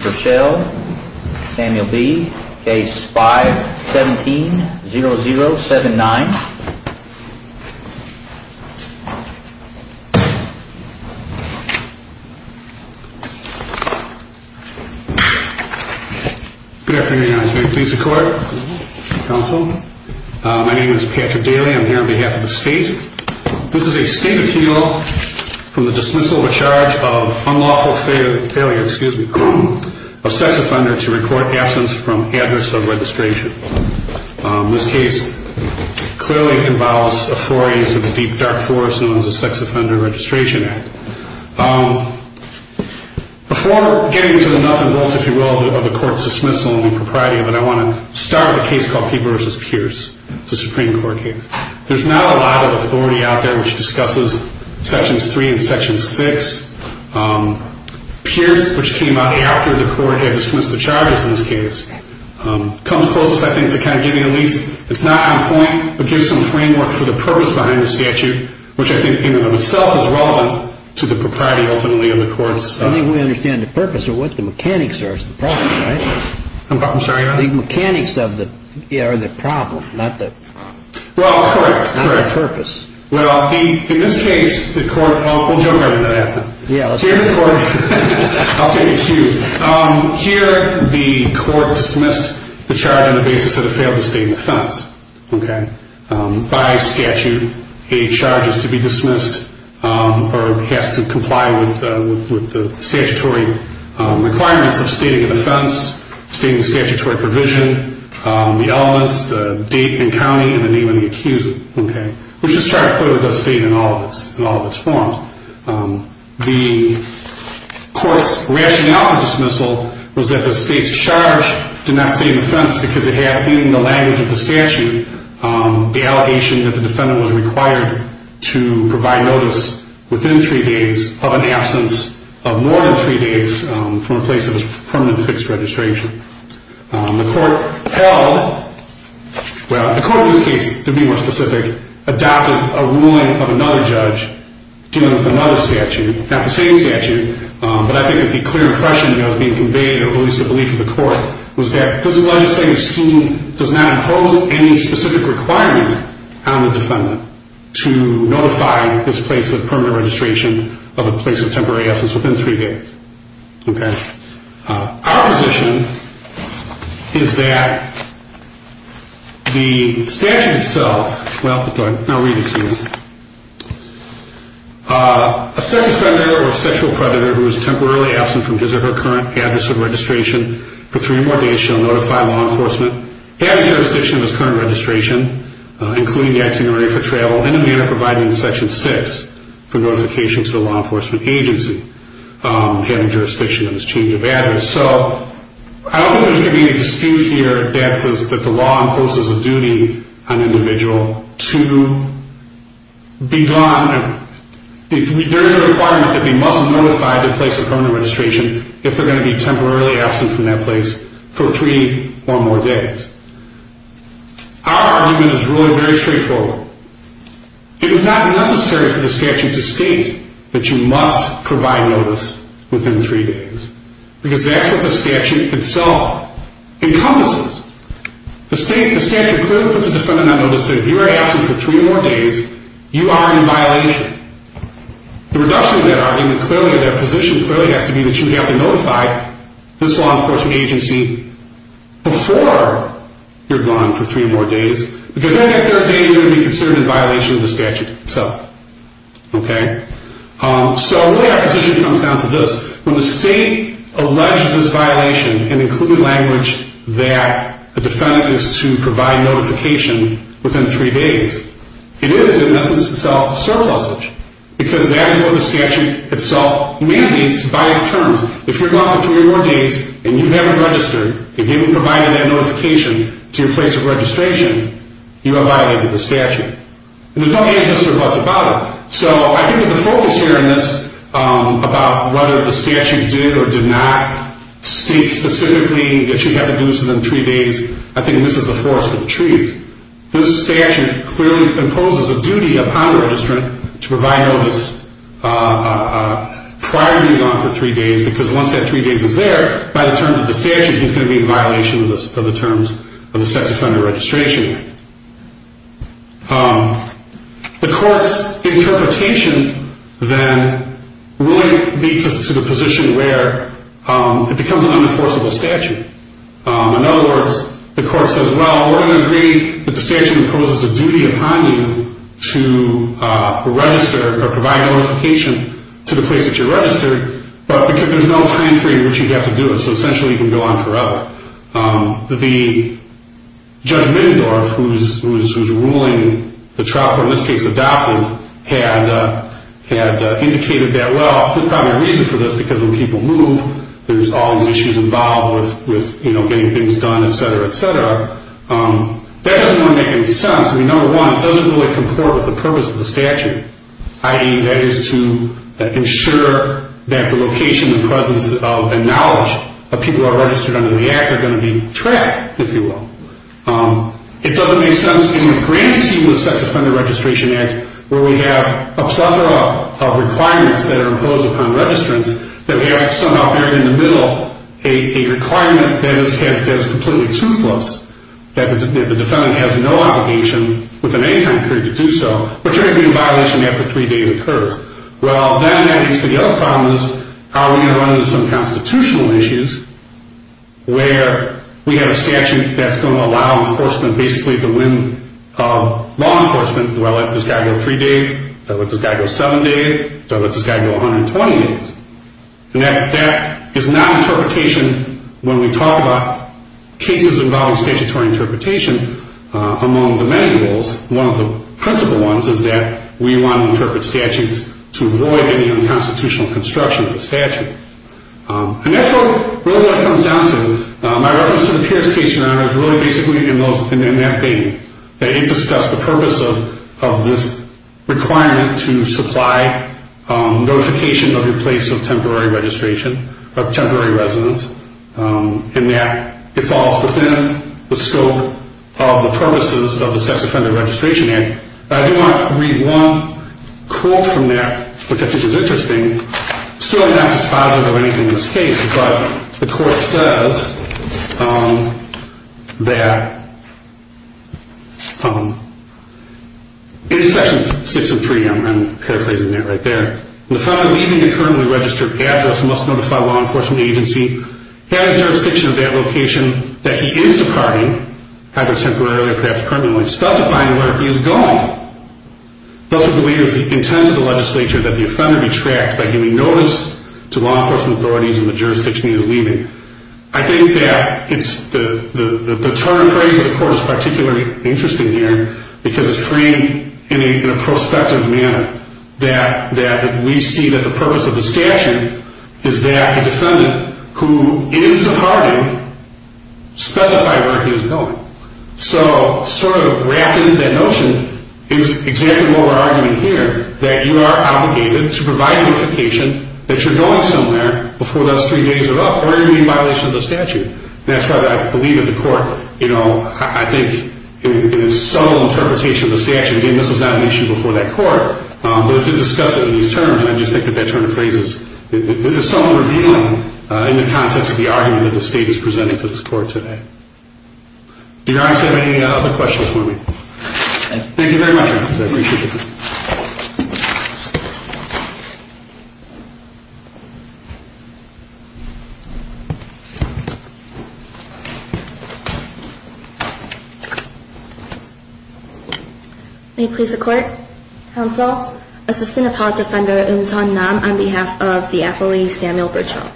v. Samuel B. Case 5-17-0079. Good afternoon, Your Honor. May it please the Court, Counsel. My name is Patrick Daly. I'm here on behalf of the State. This is a State appeal from the dismissal of a charge of unlawful failure of sex offender to record absence from address of registration. This case clearly involves a foray into the deep, dark forest known as the Sex Offender Registration Act. Before getting to the nuts and bolts, if you will, of the Court's dismissal and the propriety of it, I want to start with a case called Peabody v. Pierce. It's a Supreme Court case. There's not a lot of authority out there which discusses Sections 3 and Section 6. Pierce, which came out after the Court had dismissed the charges in this case, comes closest, I think, to kind of giving a lease. It's not on point, but gives some framework for the purpose behind the statute, which I think in and of itself is relevant to the propriety ultimately of the Court's... I think we understand the purpose or what the mechanics are is the problem, right? I'm sorry, Your Honor? The mechanics are the problem, not the... Well, correct, correct. Not the purpose. Well, in this case, the Court... We'll jump right into that then. Yeah, let's do it. I'll take a cue. Here, the Court dismissed the charge on the basis that it failed to state an offense, okay? By statute, a charge is to be dismissed or has to comply with the statutory requirements of stating an offense, stating a statutory provision, the elements, the date and county, and the name of the accuser, okay? Which this charge clearly does state in all of its forms. The Court's rationale for dismissal was that the state's charge did not state an offense because it had, in the language of the statute, the allegation that the defendant was required to provide notice within three days of an absence of more than three days from a place of permanent fixed registration. The Court held... Well, the Court in this case, to be more specific, adopted a ruling of another judge dealing with another statute, not the same statute, but I think that the clear impression that was being conveyed or at least the belief of the Court was that this legislative scheme does not impose any specific requirement on the defendant to notify this place of permanent registration of a place of temporary absence within three days, okay? Our position is that the statute itself... Well, go ahead. I'll read it to you. A sex offender or a sexual predator who is temporarily absent from his or her current address of registration for three more days shall notify law enforcement, having jurisdiction of his current registration, including the activity for travel, and a manner of providing Section 6 for notification to the law enforcement agency, having jurisdiction of his change of address. So I don't think there's going to be any dispute here that the law imposes a duty on an individual to be gone... There is a requirement that they must notify the place of permanent registration if they're going to be temporarily absent from that place for three or more days. Our argument is really very straightforward. It is not necessary for the statute to state that you must provide notice within three days because that's what the statute itself encompasses. The statute clearly puts a defendant on notice that if you are absent for three or more days, you are in violation. The reduction of that argument clearly or their position clearly has to be that you have to notify this law enforcement agency before you're gone for three or more days because then that third day you're going to be considered in violation of the statute itself. Okay? So really our position comes down to this. When the state alleges this violation and includes language that a defendant is to provide notification within three days, it is in essence itself surplusage because that is what the statute itself mandates by its terms. If you're gone for three or more days and you haven't registered, if you haven't provided that notification to your place of registration, you're in violation of the statute. There's no answer to us about it. So I think that the focus here in this about whether the statute did or did not state specifically that you have to do this within three days, I think misses the force of the truth. This statute clearly imposes a duty upon a registrant to provide notice prior to being gone for three days because once that three days is there, by the terms of the statute, he's going to be in violation of the terms of the sex offender registration act. The court's interpretation then really leads us to the position where it becomes an unenforceable statute. In other words, the court says, well, we're going to agree that the statute imposes a duty upon you to register or provide notification to the place that you're registered, but because there's no time period in which you'd have to do it, so essentially you can go on forever. The Judge Middendorf, who's ruling the trial court in this case adopted, had indicated that, well, there's probably a reason for this because when people move, there's all these issues involved with getting things done, et cetera, et cetera. That doesn't really make any sense. I mean, number one, it doesn't really comport with the purpose of the statute, i.e. that is to ensure that the location and presence of the knowledge of people who are registered under the act are going to be tracked, if you will. It doesn't make sense in the grand scheme of the sex offender registration act where we have a plethora of requirements that are imposed upon registrants that we have somehow buried in the middle a requirement that is completely toothless, that the defendant has no obligation within any time period to do so, but you're going to be in violation after three days occurs. Well, then that leads to the other problem is how are we going to run into some constitutional issues where we have a statute that's going to allow enforcement basically to win law enforcement. Well, does this guy go three days? Does this guy go seven days? Does this guy go 120 days? And that is not interpretation when we talk about cases involving statutory interpretation among the many rules. One of the principal ones is that we want to interpret statutes to avoid any unconstitutional construction of the statute. And that's really what it comes down to. My reference to the Pierce case in honor is really basically in that thing that it discussed the purpose of this requirement to supply notification of your place of temporary registration, of temporary residence, and that it falls within the scope of the purposes of the sex offender registration act. I do want to read one quote from that, which I think is interesting. It's really not dispositive of anything in this case, but the court says that in sections six and three, I'm paraphrasing that right there, the offender leaving a currently registered address must notify a law enforcement agency having jurisdiction of that location that he is departing, either temporarily or perhaps criminally, specifying where he is going. Those are the leaders that intend to the legislature that the offender be tracked by giving notice to law enforcement authorities in the jurisdiction he is leaving. I think that the term phrase of the court is particularly interesting here because it's framed in a prospective manner that we see that the purpose of the statute is that a defendant who is departing specify where he is going. So sort of wrapped into that notion is exactly what we're arguing here, that you are obligated to provide notification that you're going somewhere before those three days are up or you're going to be in violation of the statute. That's why I believe that the court, you know, I think in its subtle interpretation of the statute, again, this was not an issue before that court, but it did discuss it in these terms, and I just think that that term of phrase is somewhat revealing in the context of the argument that the state is presenting to this court today. Do you guys have any other questions for me? Thank you very much. I appreciate it. May it please the Court. Counsel. Assistant Appellate Defender Eun Sun Nam on behalf of the appellee Samuel Bertschall.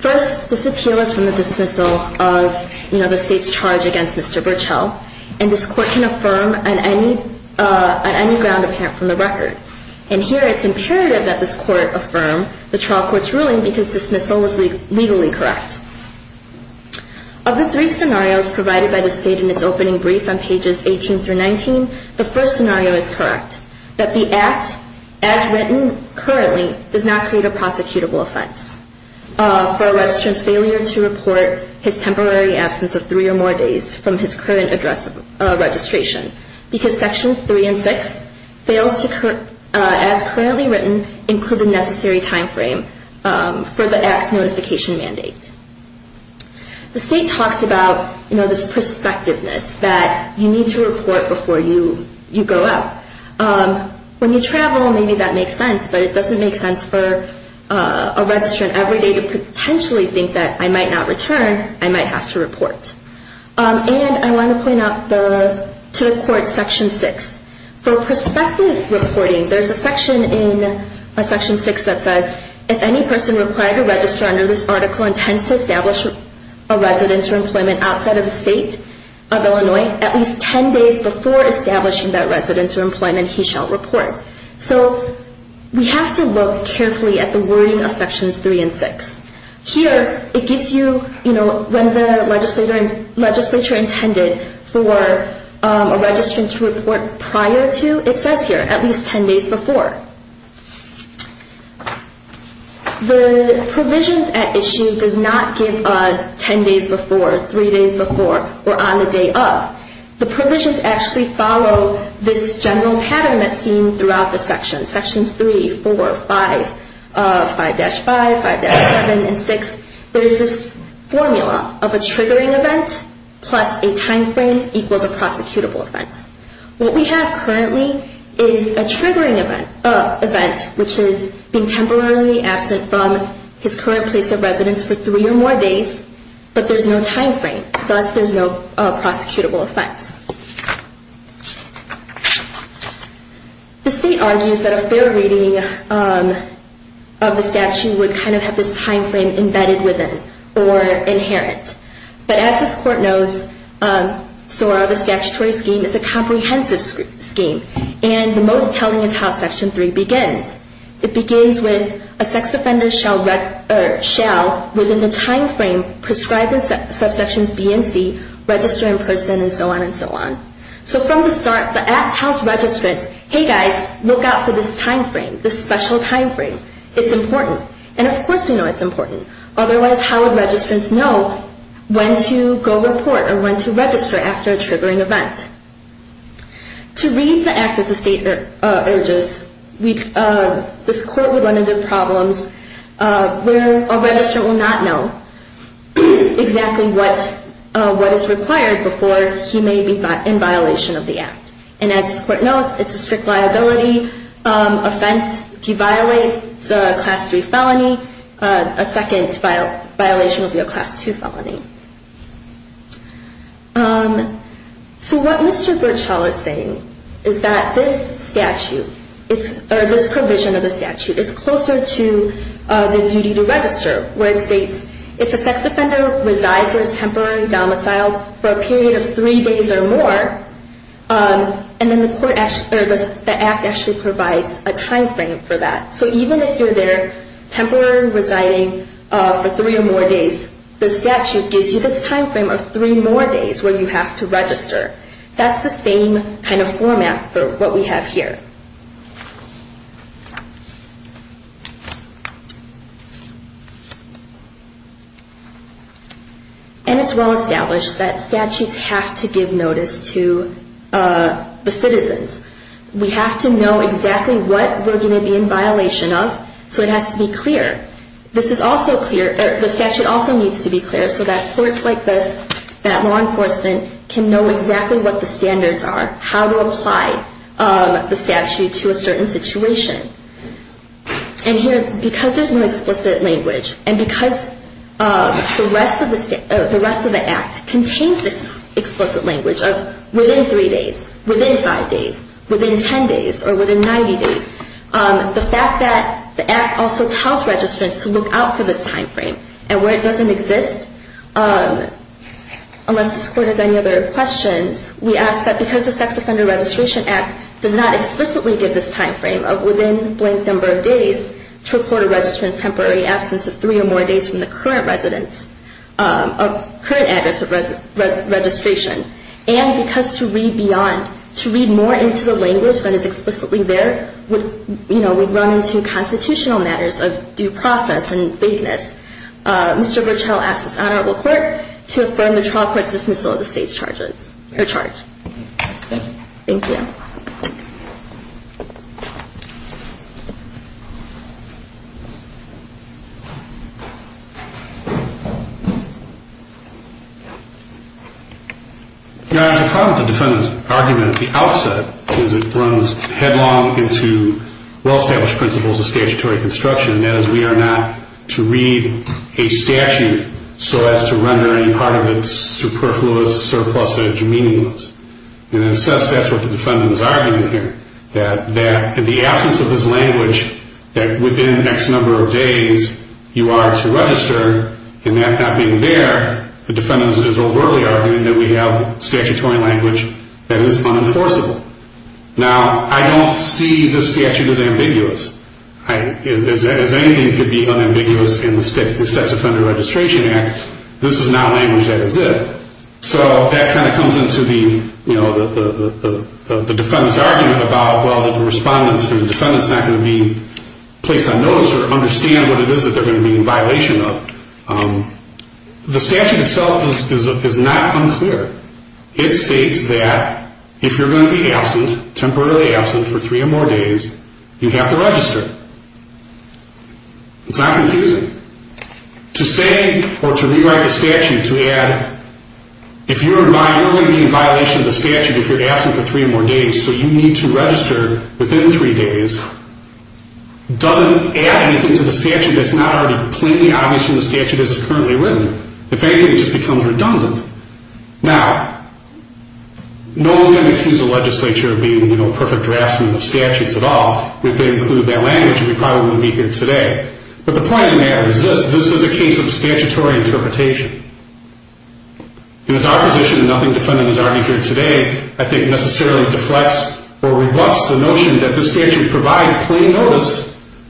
First, this appeal is from the dismissal of, you know, the state's charge against Mr. Bertschall, and this court can affirm on any ground apparent from the record. And here it's imperative that this court affirm the trial court's ruling because dismissal is legally correct. Of the three scenarios provided by the state in its opening brief on pages 18 through 19, the first scenario is correct, that the act as written currently does not create a prosecutable offense for a registrant's failure to report his temporary absence of three or more days from his current address registration because sections three and six fails to, as currently written, include the necessary time frame for the act's notification mandate. The state talks about, you know, this prospectiveness, that you need to report before you go out. When you travel, maybe that makes sense, but it doesn't make sense for a registrant every day to potentially think that, I might not return, I might have to report. And I want to point out to the court section six. For prospective reporting, there's a section in section six that says, if any person required to register under this article intends to establish a residence or employment outside of the state of Illinois, at least ten days before establishing that residence or employment, he shall report. So we have to look carefully at the wording of sections three and six. Here it gives you, you know, when the legislature intended for a registrant to report prior to, it says here, at least ten days before. The provisions at issue does not give ten days before, three days before, or on the day of. The provisions actually follow this general pattern that's seen throughout the sections, sections three, four, five, 5-5, 5-7, and six. There is this formula of a triggering event plus a time frame equals a prosecutable offense. What we have currently is a triggering event, which is being temporarily absent from his current place of residence for three or more days, but there's no time frame, thus there's no prosecutable offense. The state argues that a fair reading of the statute would kind of have this time frame embedded within or inherent. But as this court knows, SOAR, the statutory scheme, is a comprehensive scheme, and the most telling is how section three begins. It begins with a sex offender shall, within the time frame prescribed in subsections B and C, register in person and so on and so on. So from the start, the Act tells registrants, hey, guys, look out for this time frame, this special time frame. It's important. And of course we know it's important. Otherwise, how would registrants know when to go report or when to register after a triggering event? To read the Act as the state urges, this court would run into problems where a registrant will not know exactly what is required before he may be in violation of the Act. And as this court knows, it's a strict liability offense. If you violate, it's a class three felony. A second violation would be a class two felony. So what Mr. Birchall is saying is that this statute, or this provision of the statute, is closer to the duty to register, where it states if a sex offender resides or is temporarily domiciled for a period of three days or more, and then the Act actually provides a time frame for that. So even if you're there temporarily residing for three or more days, the statute gives you this time frame of three more days where you have to register. That's the same kind of format for what we have here. And it's well established that statutes have to give notice to the citizens. We have to know exactly what we're going to be in violation of, so it has to be clear. The statute also needs to be clear so that courts like this, that law enforcement, can know exactly what the standards are, how to apply the statute to a certain situation. And here, because there's no explicit language, and because the rest of the Act contains this explicit language of within three days, within five days, within 10 days, or within 90 days, the fact that the Act also tells registrants to look out for this time frame, and where it doesn't exist, unless this court has any other questions, we ask that because the Sex Offender Registration Act does not explicitly give this time frame of within a blank number of days to a court of registrants' temporary absence of three or more days from the current address of registration, and because to read beyond, because of the language that is explicitly there, we run into constitutional matters of due process and vagueness. Mr. Virchow asks this honorable court to affirm the trial court's dismissal of the state's charges. You're charged. Thank you. Your Honor, it's a problem with the defendant's argument at the outset, because it runs headlong into well-established principles of statutory construction, and that is we are not to read a statute so as to render any part of it superfluous, surplusage, meaningless. And in a sense, that's what the defendant is arguing here, that in the absence of this language, that within X number of days you are to register, and that not being there, the defendant is overtly arguing that we have statutory language that is unenforceable. Now, I don't see this statute as ambiguous. As anything could be unambiguous in the Sex Offender Registration Act, this is not language that is it. So that kind of comes into the defendant's argument about, well, the defendant's not going to be placed on notice or understand what it is that they're going to be in violation of. The statute itself is not unclear. It states that if you're going to be absent, temporarily absent for three or more days, you have to register. It's not confusing. To say or to rewrite the statute to add, if you're going to be in violation of the statute if you're absent for three or more days, so you need to register within three days, doesn't add anything to the statute that's not already completely obvious from the statute as it's currently written. If anything, it just becomes redundant. Now, no one's going to accuse the legislature of being a perfect draftsman of statutes at all. If they included that language, we probably wouldn't be here today. But the point in that is this, this is a case of statutory interpretation. In its opposition, and nothing the defendant has argued here today, I think necessarily deflects or rebuts the notion that the statute provides plain notice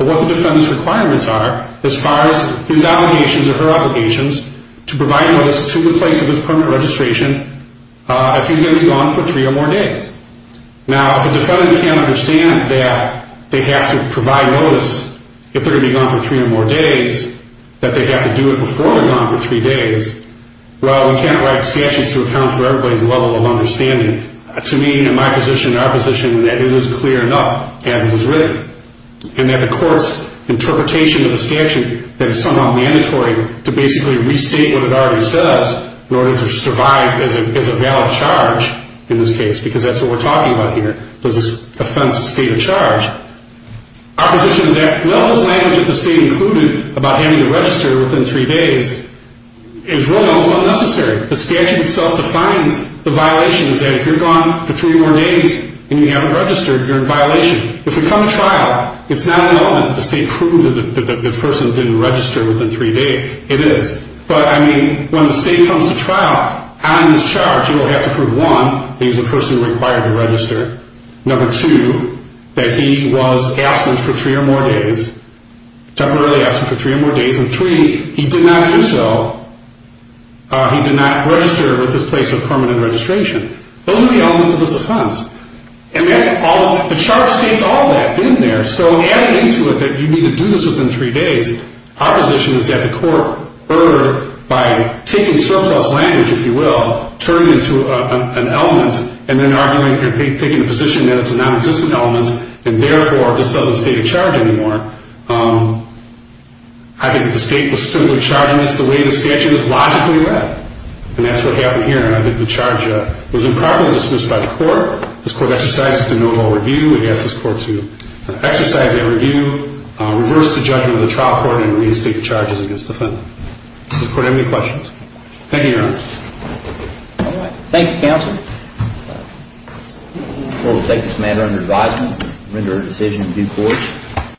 of what the defendant's requirements are as far as his obligations or her obligations to provide notice to the place of his permanent registration if he's going to be gone for three or more days. Now, if the defendant can't understand that they have to provide notice if they're going to be gone for three or more days, that they have to do it before they're gone for three days, well, we can't write statutes to account for everybody's level of understanding. To me, in my position, in our position, that it is clear enough as it was written. And that the court's interpretation of the statute, that it's somehow mandatory to basically restate what it already says in order to survive as a valid charge in this case because that's what we're talking about here. This is offense to state of charge. Our position is that, with all this language that the state included about having to register within three days, is really almost unnecessary. The statute itself defines the violations that if you're gone for three or more days and you haven't registered, you're in violation. If we come to trial, it's not an element that the state proved that the person didn't register within three days. It is. But, I mean, when the state comes to trial on this charge, you will have to prove, one, that he's the person required to register, number two, that he was absent for three or more days, temporarily absent for three or more days, and three, he did not do so, he did not register with his place of permanent registration. Those are the elements of this offense. And the charge states all that in there. So adding into it that you need to do this within three days, our position is that the court, by taking surplus language, if you will, turn it into an element and then arguing, you're taking the position that it's a non-existent element and, therefore, this doesn't state a charge anymore. I think that the state was simply charging this the way the statute is logically read. And that's what happened here. And I think the charge was improperly dismissed by the court. This court exercised a de novo review. It asked this court to exercise a review, reverse the judgment of the trial court, and reinstate the charges against the defendant. Does the court have any questions? Thank you, Your Honor. All right. Thank you, counsel. We'll take this matter under advisement and render a decision in due course.